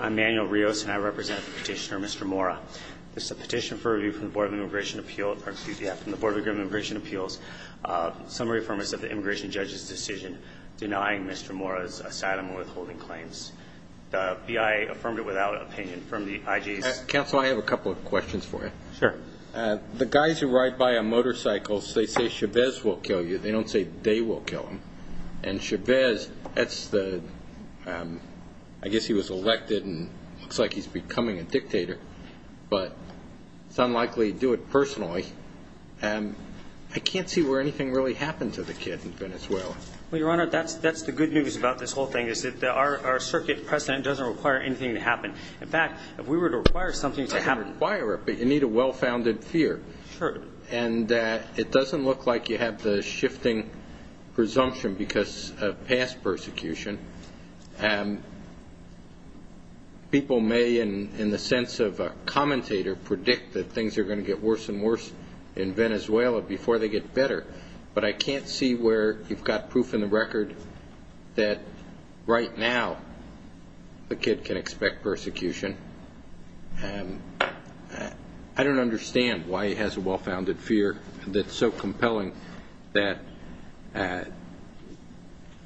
I'm Manuel Rios and I represent the petitioner, Mr. Mora. This is a petition for review from the Board of Immigration Appeals. Summary affirmance of the immigration judge's decision denying Mr. Mora's asylum and withholding claims. The BIA affirmed it without opinion. From the IG's- Counsel, I have a couple of questions for you. Sure. The guys who ride by on motorcycles, they say Chavez will kill you. They don't say they will kill him. And Chavez, I guess he was elected and it looks like he's becoming a dictator, but it's unlikely he'd do it personally. I can't see where anything really happened to the kid in Venezuela. Well, Your Honor, that's the good news about this whole thing is that our circuit president doesn't require anything to happen. In fact, if we were to require something to happen- I can't require it, but you need a well-founded fear. Sure. And it doesn't look like you have the shifting presumption because of past persecution. People may, in the sense of a commentator, predict that things are going to get worse and worse in Venezuela before they get better. But I can't see where you've got proof in the record that right now the kid can expect persecution. I don't understand why he has the well-founded fear that's so compelling that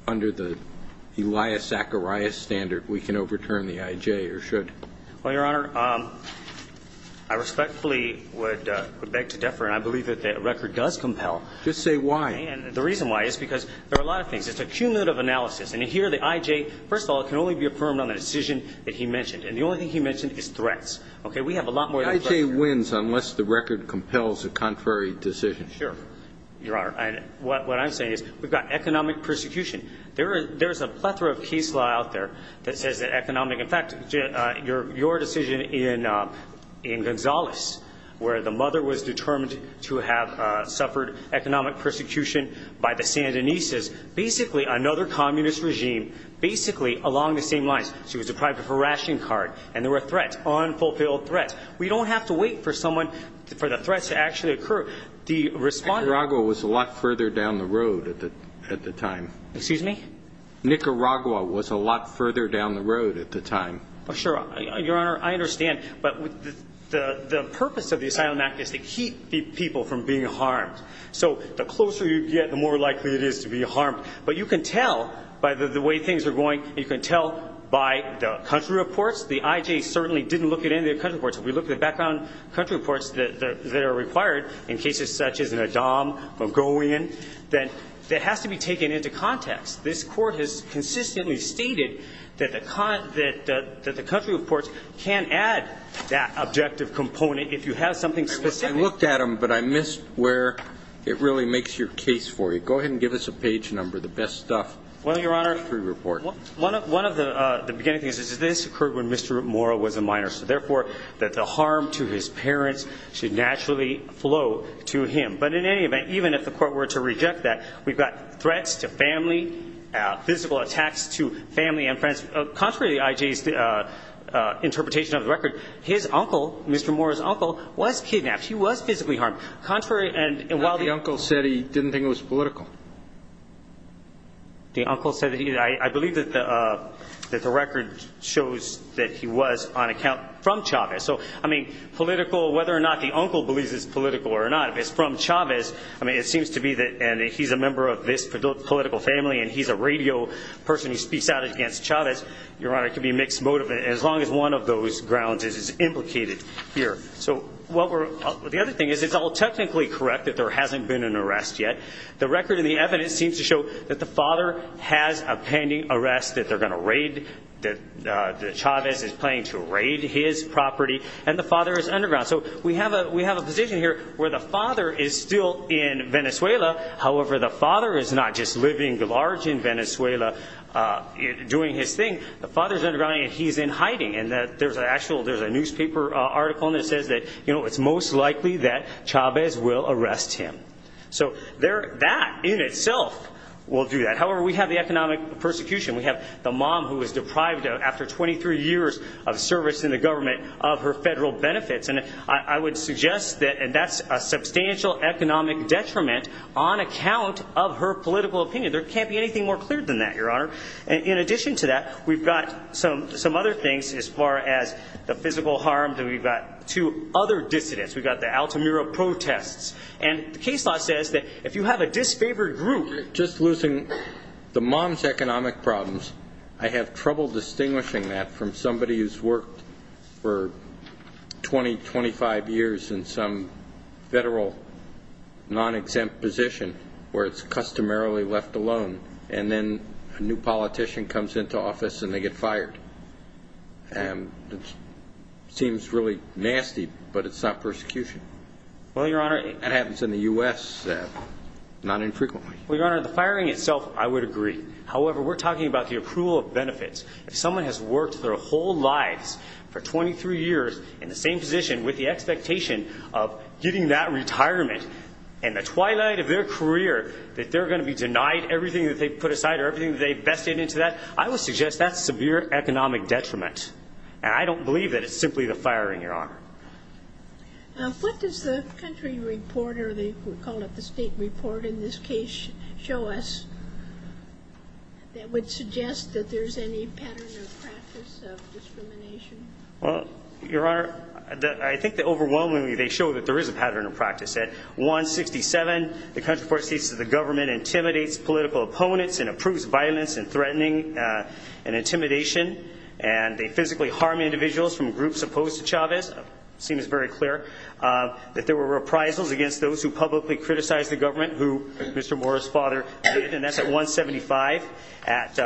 under the Elias Zacharias standard we can overturn the IJ or should. Well, Your Honor, I respectfully would beg to differ and I believe that the record does compel. Just say why. And the reason why is because there are a lot of things. It's a cumulative analysis. And here, the IJ, first of all, it can only be affirmed on the decision that he mentioned. And the only thing he mentioned is threats. Okay? We have a lot more than threats. The IJ wins unless the record compels a contrary decision. Sure, Your Honor. And what I'm saying is we've got economic persecution. There's a plethora of case law out there that says that economic – in fact, your decision in Gonzales where the mother was determined to have suffered economic persecution by the Sandinistas, basically another communist regime, basically along the same lines. She was deprived of her ration card. And there were threats, unfulfilled threats. We don't have to wait for someone – for the threats to actually occur. The respondent – Nicaragua was a lot further down the road at the time. Excuse me? Nicaragua was a lot further down the road at the time. Oh, sure. Your Honor, I understand. But the purpose of the Asylum Act is to keep people from being harmed. So the closer you get, the more likely it is to be harmed. But you can tell by the way things are going, you can tell by the country reports. The IJ certainly didn't look at any of their country reports. If we look at the background country reports that are required in cases such as in Adham, Mogollon, that has to be taken into context. This Court has consistently stated that the country reports can add that objective component if you have something specific. I looked at them, but I missed where it really makes your case for you. Go ahead and give us a page number, the best stuff. Well, Your Honor, one of the beginning things is this occurred when Mr. Mora was a minor. So therefore, that the harm to his parents should naturally flow to him. But in any event, even if the Court were to reject that, we've got threats to family, physical attacks to family and friends. Contrary to the IJ's interpretation of the record, his uncle, Mr. Mora's uncle, was kidnapped. He was physically harmed. Contrary – The uncle said he didn't think it was political. The uncle said that he – I believe that the record shows that he was on account from Chavez. So, I mean, political – whether or not the uncle believes it's political or not, if it's from Chavez, I mean, it seems to be that – and he's a member of this political family, and he's a radio person who speaks out against Chavez. Your Honor, it could be a mixed motive, as long as one of those grounds is implicated here. So what we're – the other thing is it's all technically correct that there hasn't been an arrest yet. The record and the evidence seems to show that the father has a pending arrest, that they're going to raid – that Chavez is planning to raid his property, and the father is underground. So we have a position here where the father is still in Venezuela. However, the father is not just living large in Venezuela, doing his thing. The father's underground, and he's in hiding. And there's an actual – there's evidence that says that, you know, it's most likely that Chavez will arrest him. So there – that in itself will do that. However, we have the economic persecution. We have the mom who was deprived after 23 years of service in the government of her federal benefits. And I would suggest that – and that's a substantial economic detriment on account of her political opinion. There can't be anything more clear than that, Your Honor. And in addition to that, we've got some other things as far as the physical harm that we've got to other dissidents. We've got the Altamira protests. And the case law says that if you have a disfavored group – Just losing the mom's economic problems, I have trouble distinguishing that from somebody who's worked for 20, 25 years in some federal non-exempt position where it's customarily left alone. And then a new politician comes into office, and they get fired. And it seems really nasty, but it's not persecution. Well, Your Honor – That happens in the U.S., not infrequently. Well, Your Honor, the firing itself, I would agree. However, we're talking about the approval of benefits. If someone has worked their whole lives for 23 years in the same position with the expectation of getting that retirement and the twilight of their career that they're going to be denied everything that they put aside or everything that they vested into that, I would suggest that's severe economic detriment. And I don't believe that it's simply the firing, Your Honor. What does the country report, or they call it the state report in this case, show us that would suggest that there's any pattern of practice of discrimination? Well, Your Honor, I think that overwhelmingly they show that there is a pattern of practice. At 167, the country report states that the government intimidates political opponents and approves violence and threatening and intimidation, and they physically harm individuals from groups opposed to Chavez. It seems very clear that there were reprisals against those who publicly criticized the government, who Mr. Mora's father did, and that's at 175. At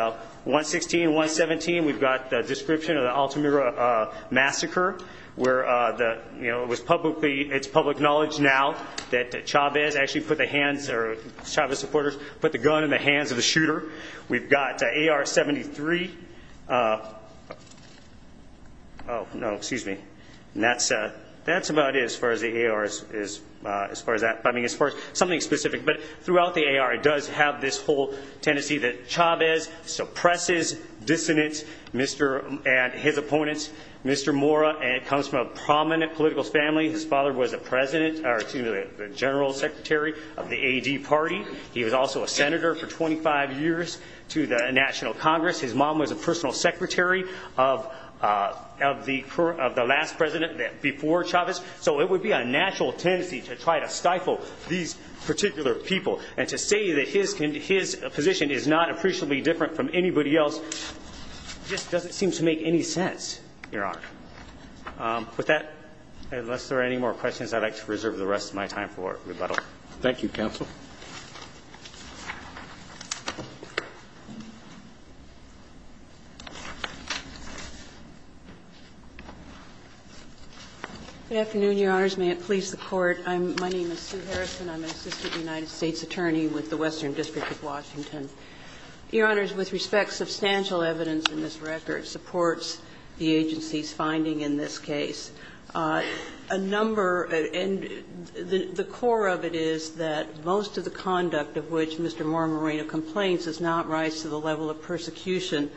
116, 117, we've got the description of the Altamira Massacre, where it was publicly it's public knowledge now that Chavez actually put the hands or Chavez supporters put the gun in the hands of the shooter. We've got AR-73. Oh, no, excuse me. And that's about it as far as the AR is, as far as that, I mean, as far as something specific, but throughout the AR, it does have this whole tendency that Chavez suppresses dissonance, Mr. and his family. His father was a president, excuse me, the general secretary of the AD party. He was also a senator for 25 years to the National Congress. His mom was a personal secretary of the last president before Chavez. So it would be a natural tendency to try to stifle these particular people and to say that his position is not appreciably different from anybody else just doesn't seem to make any sense, Your Honor. With that, unless there are any more questions, I'd like to reserve the rest of my time for rebuttal. Thank you, counsel. Good afternoon, Your Honors. May it please the Court. My name is Sue Harrison. I'm an assistant United States attorney with the Western District of Washington. Your Honors, with respect, substantial evidence in this record supports the agency's finding in this case. A number of the core of it is that most of the conduct of which Mr. Marmoreno complains does not rise to the level of persecution,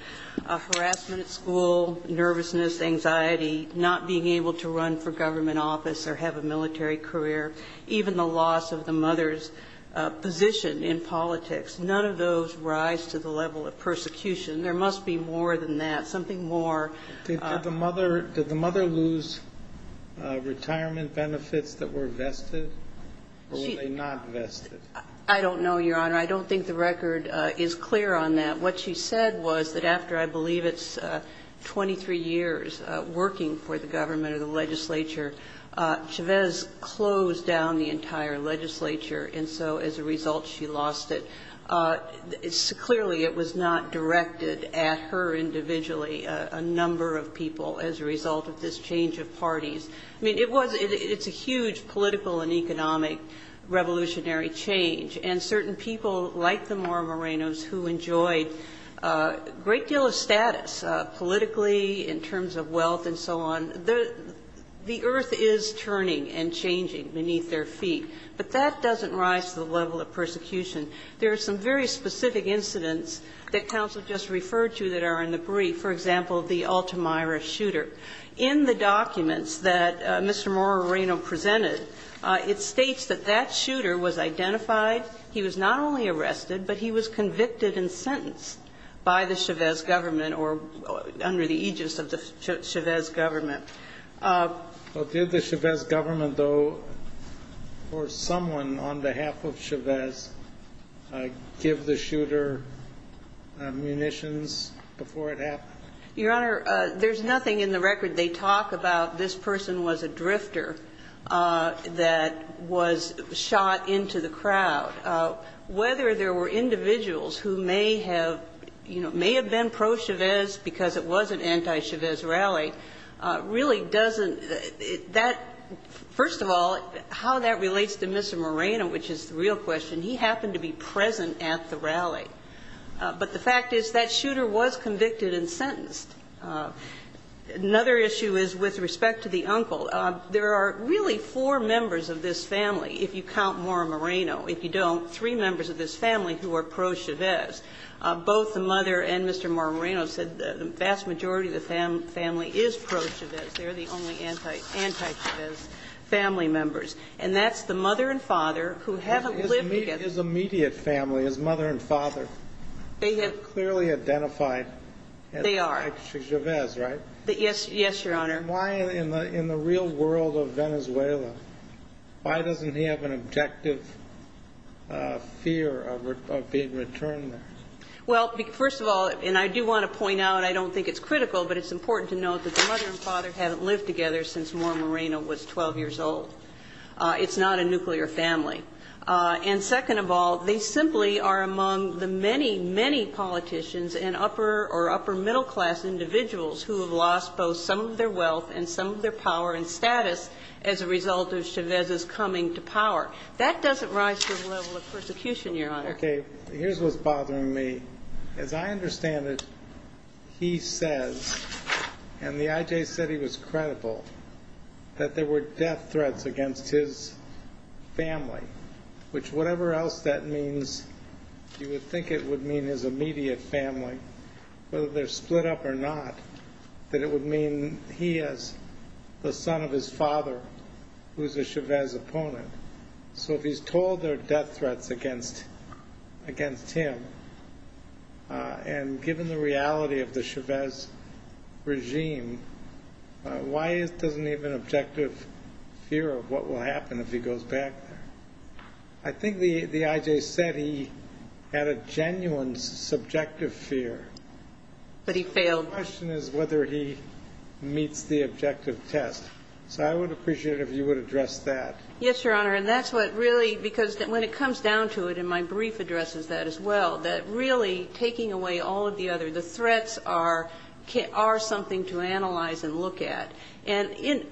harassment at school, nervousness, anxiety, not being able to run for government office or have a military career, even the loss of the mother's position in politics. None of those rise to the level of persecution. There must be more than that, something more. Did the mother lose retirement benefits that were vested or were they not vested? I don't know, Your Honor. I don't think the record is clear on that. What she said was that after, I believe, it's 23 years working for the government or the legislature, Chavez closed down the entire legislature. And so as a result, she lost it. Clearly, it was not directed at her individually, a number of people as a result of this change of parties. I mean, it's a huge political and economic revolutionary change. And certain people like the Marmorenos who enjoyed a great deal of status politically in terms of wealth and so on, the earth is turning and changing beneath their feet. But that doesn't rise to the level of persecution. There are some very specific incidents that counsel just referred to that are in the brief, for example, the Altamira shooter. In the documents that Mr. Marmoreno presented, it states that that shooter was identified. He was not only arrested, but he was convicted and sentenced by the Chavez government or under the aegis of the Chavez government. But did the Chavez government, though, or someone on behalf of Chavez, give the shooter munitions before it happened? Your Honor, there's nothing in the record they talk about this person was a drifter that was shot into the crowd. Whether there were individuals who may have, you know, may have been pro-Chavez because it was an anti-Chavez rally really doesn't, that, first of all, how that relates to Mr. Marmoreno, which is the real question. He happened to be present at the rally. But the fact is that shooter was convicted and sentenced. Another issue is with respect to the uncle. There are really four members of this family, if you count Marmoreno. If you don't, three members of this family who are pro-Chavez. Both the mother and Mr. Marmoreno said the vast majority of the family is pro-Chavez. They're the only anti-Chavez family members. And that's the mother and father who haven't lived together. His immediate family, his mother and father. They have clearly identified as anti-Chavez, right? They are. Yes, Your Honor. And why in the real world of Venezuela, why doesn't he have an objective fear of being returned there? Well, first of all, and I do want to point out, I don't think it's critical, but it's important to note that the mother and father haven't lived together since Marmoreno was 12 years old. It's not a nuclear family. And second of all, they simply are among the many, many politicians and upper or upper middle class individuals who have lost both some of their wealth and some of their power and status as a rise to the level of persecution, Your Honor. Okay. Here's what's bothering me. As I understand it, he says, and the I.J. said he was credible, that there were death threats against his family, which whatever else that means, you would think it would mean his immediate family, whether they're split up or not, that it would mean he has the son of his father, who's a Chavez opponent. So if he's told there are death threats against him, and given the reality of the Chavez regime, why doesn't he have an objective fear of what will happen if he goes back there? I think the I.J. said he had a genuine subjective fear. But he failed. The question is whether he meets the objective test. So I would appreciate it if you would address that. Yes, Your Honor. And that's what really because when it comes down to it, and my brief addresses that as well, that really taking away all of the other threats are something to analyze and look at. And in this case,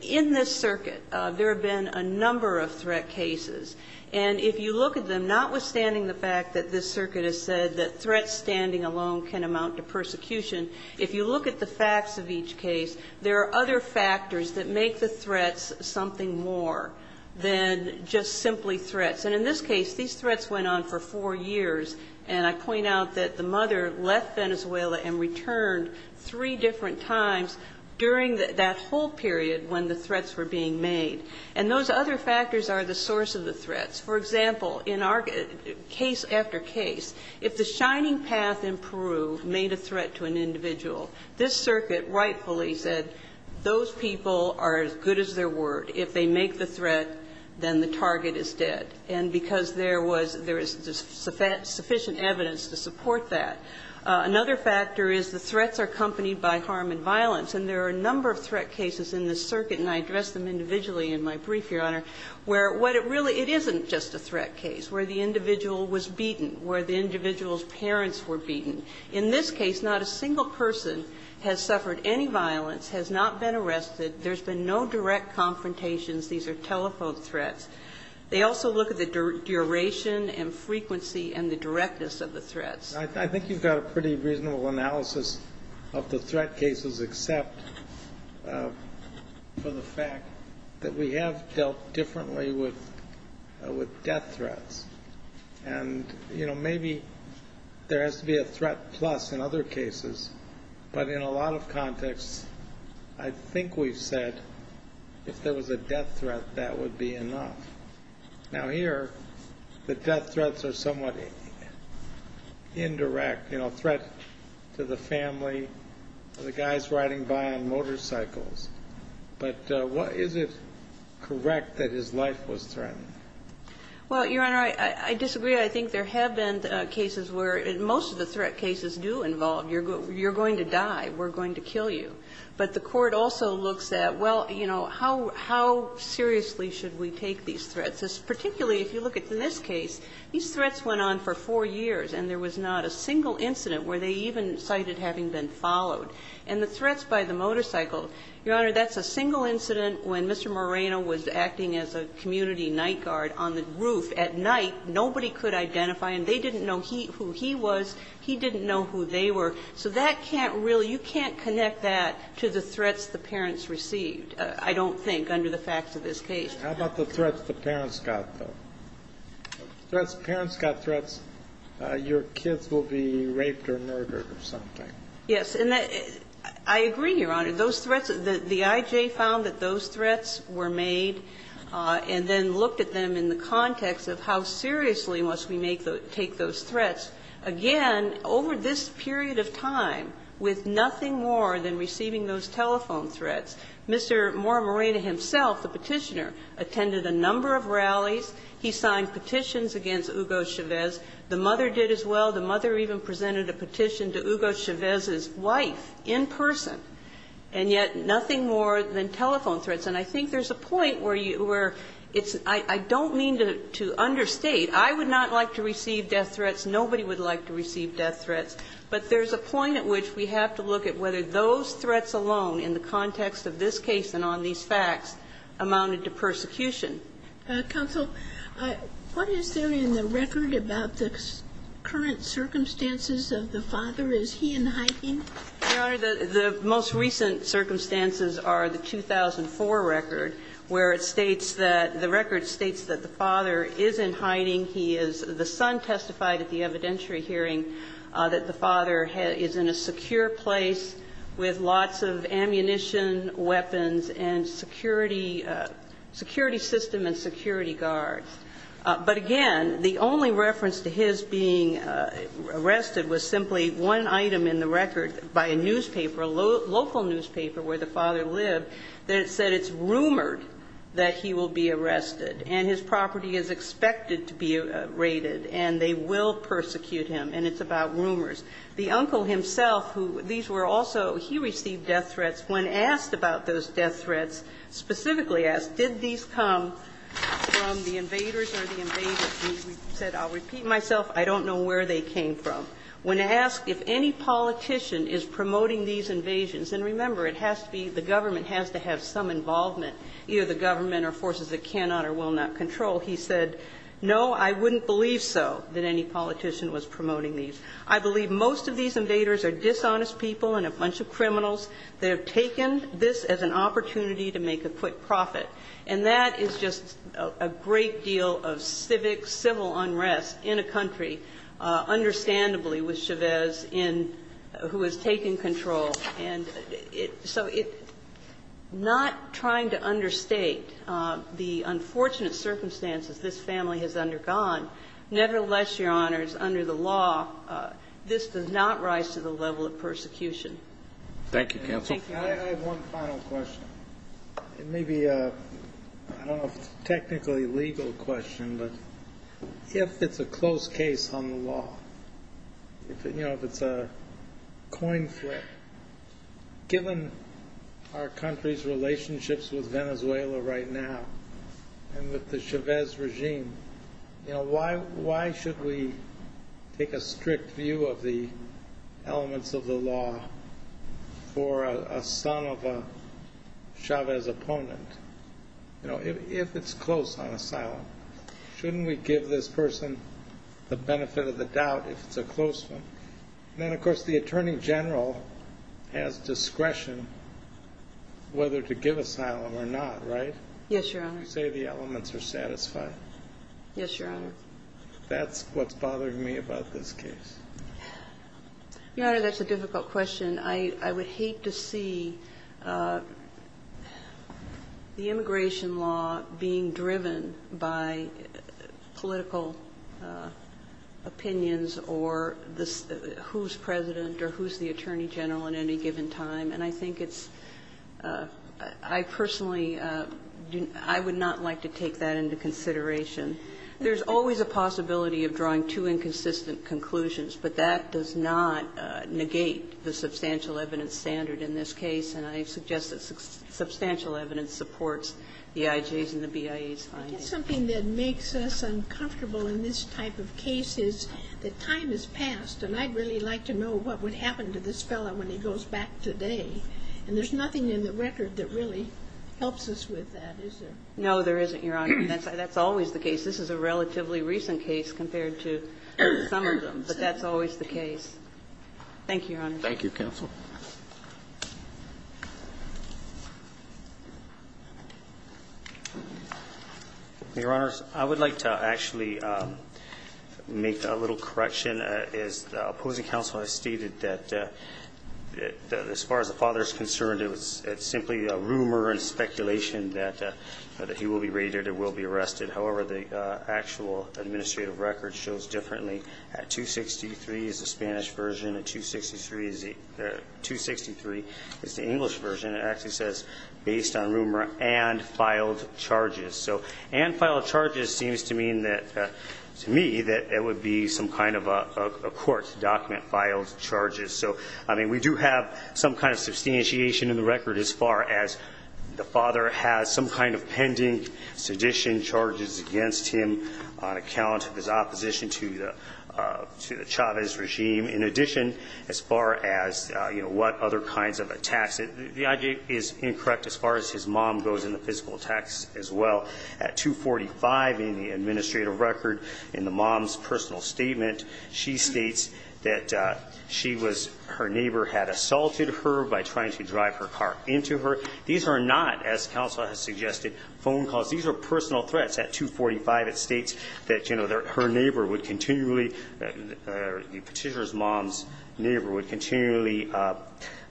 these threats went on for four years. And I point out that the mother left Venezuela and returned three different times during that whole period when the threats were being made. And those other factors are notwithstanding the fact that this are the source of the threats. For example, in our case after case, if the Shining Path in Peru made a threat to an individual, this circuit rightfully said those people are as good as their word. If they make the threat, then the target is dead. And because there was sufficient evidence to support that. Another factor is the threats are accompanied by harm and violence. And there are a number of threat cases in this circuit, and I address them individually in my brief, Your Honor, where what it really, it isn't just a threat case, where the individual was beaten, where the individual's parents were beaten. In this case, not a single person has suffered any violence, has not been arrested. There's been no direct confrontations. These are telephone threats. They also look at the duration and frequency and the directness of the threats. I think you've got a pretty reasonable analysis of the threat cases, except for the fact that we have dealt differently with death threats. And, you know, maybe there has to be a threat plus in other cases. But in a lot of contexts, I think we've said if there was a death threat, that would be enough. Now here, the death threats are somewhat indirect. You know, threat to the family, the guys riding by on motorcycles. But is it correct that his life was threatened? Well, Your Honor, I disagree. I think there have been cases where most of the threat cases do involve, you're going to die, we're going to kill you. But the court also looks at, well, you know, how seriously should we take these threats? Particularly if you look at in this case, these threats went on for four years, and there was not a single incident where they even cited having been followed. And the threats by the motorcycle, Your Honor, that's a single incident when Mr. Moreno was acting as a community night guard on the roof at night, nobody could identify him. They didn't know who he was. He didn't know who they were. So that can't really, you can't connect that to the threats the parents received, I don't think, under the facts of this case. How about the threats the parents got, though? Threats, parents got threats, your kids will be raped or murdered or something. Yes. And I agree, Your Honor, those threats, the I.J. found that those threats were made and then looked at them in the context of how seriously must we make those, take those threats. Again, over this period of time, with nothing more than receiving those telephone threats, Mr. Moreno himself, the petitioner, attended a number of rallies. He signed petitions against Hugo Chavez. The mother did as well. The mother even presented a petition to Hugo Chavez's wife in person. And yet nothing more than telephone threats. And I think there's a point where you, where it's, I don't mean to understate. I would not like to receive death threats. Nobody would like to receive death threats. But there's a point at which we have to look at whether those threats alone in the context of this case and on these cases are a threat to prosecution. Counsel, what is there in the record about the current circumstances of the father? Is he in hiding? Your Honor, the most recent circumstances are the 2004 record, where it states that, the record states that the father is in hiding. He is, the son testified at the evidentiary hearing that the father is in a secure place with lots of ammunition, weapons, and security, security system and security guards. But again, the only reference to his being arrested was simply one item in the record by a newspaper, a local newspaper where the father lived, that said it's rumored that he will be arrested and his property is expected to be confiscated. So these were also, he received death threats. When asked about those death threats, specifically asked, did these come from the invaders or the invaders, he said, I'll repeat myself, I don't know where they came from. When asked if any politician is promoting these invasions, and remember, it has to be, the government has to have some involvement, either the government or forces that cannot or will not control, he said, no, I wouldn't believe so that any of the people, and a bunch of criminals, that have taken this as an opportunity to make a quick profit. And that is just a great deal of civic, civil unrest in a country, understandably, with Chavez in, who has taken control. And it, so it, not trying to understate the unfortunate circumstances this family has undergone. Nevertheless, Your Honors, under the law, this does not rise to the level of persecution. Thank you, Counsel. I have one final question. It may be a, I don't know if it's a technically legal question, but if it's a close case on the law, you know, if it's a coin flip, given our country's relationships with Venezuela right now, and with the Chavez regime, you know, why should we take a strict view of the elements of the law for a son of a Chavez opponent? You know, if it's close on asylum, shouldn't we give this person the benefit of the doubt if it's a close one? Then, of course, the Attorney General has discretion whether to give asylum or not, right? Yes, Your Honor. You say the elements are satisfied. Yes, Your Honor. That's what's bothering me about this case. Your Honor, that's a difficult question. I would hate to see the immigration law being driven by political opinions or who's President or who's the Attorney General at any given time. And I think it's I personally, I would not like to take that into consideration. There's always a possibility of drawing two inconsistent conclusions, but that does not negate the substantial evidence standard in this case. And I suggest that substantial evidence supports the IJs and the BIAs findings. Something that makes us uncomfortable in this type of case is that time has passed, and I'd really like to know what would happen to this fellow when he goes back today. And there's nothing in the record that really helps us with that, is there? No, there isn't, Your Honor. That's always the case. This is a relatively recent case compared to some of them. But that's always the case. Thank you, Your Honor. Thank you, Counsel. Your Honor, I would like to actually make a little correction. As the opposing counsel has stated that as far as the father is concerned, it's simply a rumor and speculation that he will be raided or will be arrested. However, the actual administrative record shows differently. At 263 is the Spanish version. At 263 is the English version. It actually says, based on rumor and filed charges. So, and filed charges seems to mean that to me that it would be some kind of a court document, filed charges. So, I mean, we do have some kind of substantiation in the record as far as the father has some kind of pending sedition charges against him on account of his opposition to the Chavez regime. In addition, as far as what other kinds of attacks. The I.J. is incorrect as far as his mom goes in the physical attacks as well. At 245 in the case, her neighbor had assaulted her by trying to drive her car into her. These are not, as counsel has suggested, phone calls. These are personal threats. At 245 it states that her neighbor would continually the petitioner's mom's neighbor would continually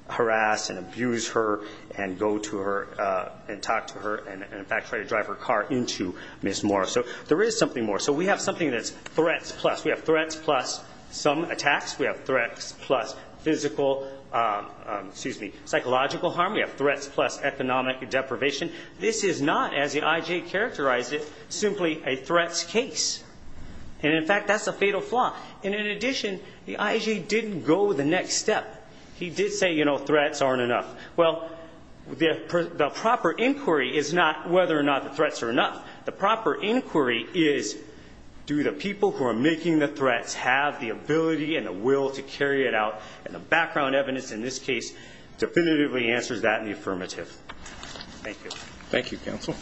harass and abuse her and go to her and talk to her and in fact try to drive her car into Ms. Moore. So there is something more. So we have something that's threats plus. We have threats plus some attacks. We have threats plus physical, excuse me, psychological harm. We have threats plus economic deprivation. This is not, as the I.J. characterized it, simply a threats case. And in fact, that's a fatal flaw. And in addition, the I.J. didn't go the next step. He did say, you know, threats aren't enough. Well, the proper inquiry is not whether or not the threats are enough. The proper inquiry is do the people who are making the threats have the ability and the will to carry it out. And the background evidence in this case definitively answers that in the affirmative. Thank you. Roberts. Thank you, counsel.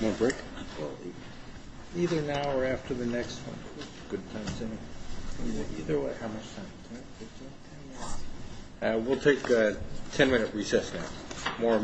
More break? Either now or after the next one. We'll take a ten minute recess now.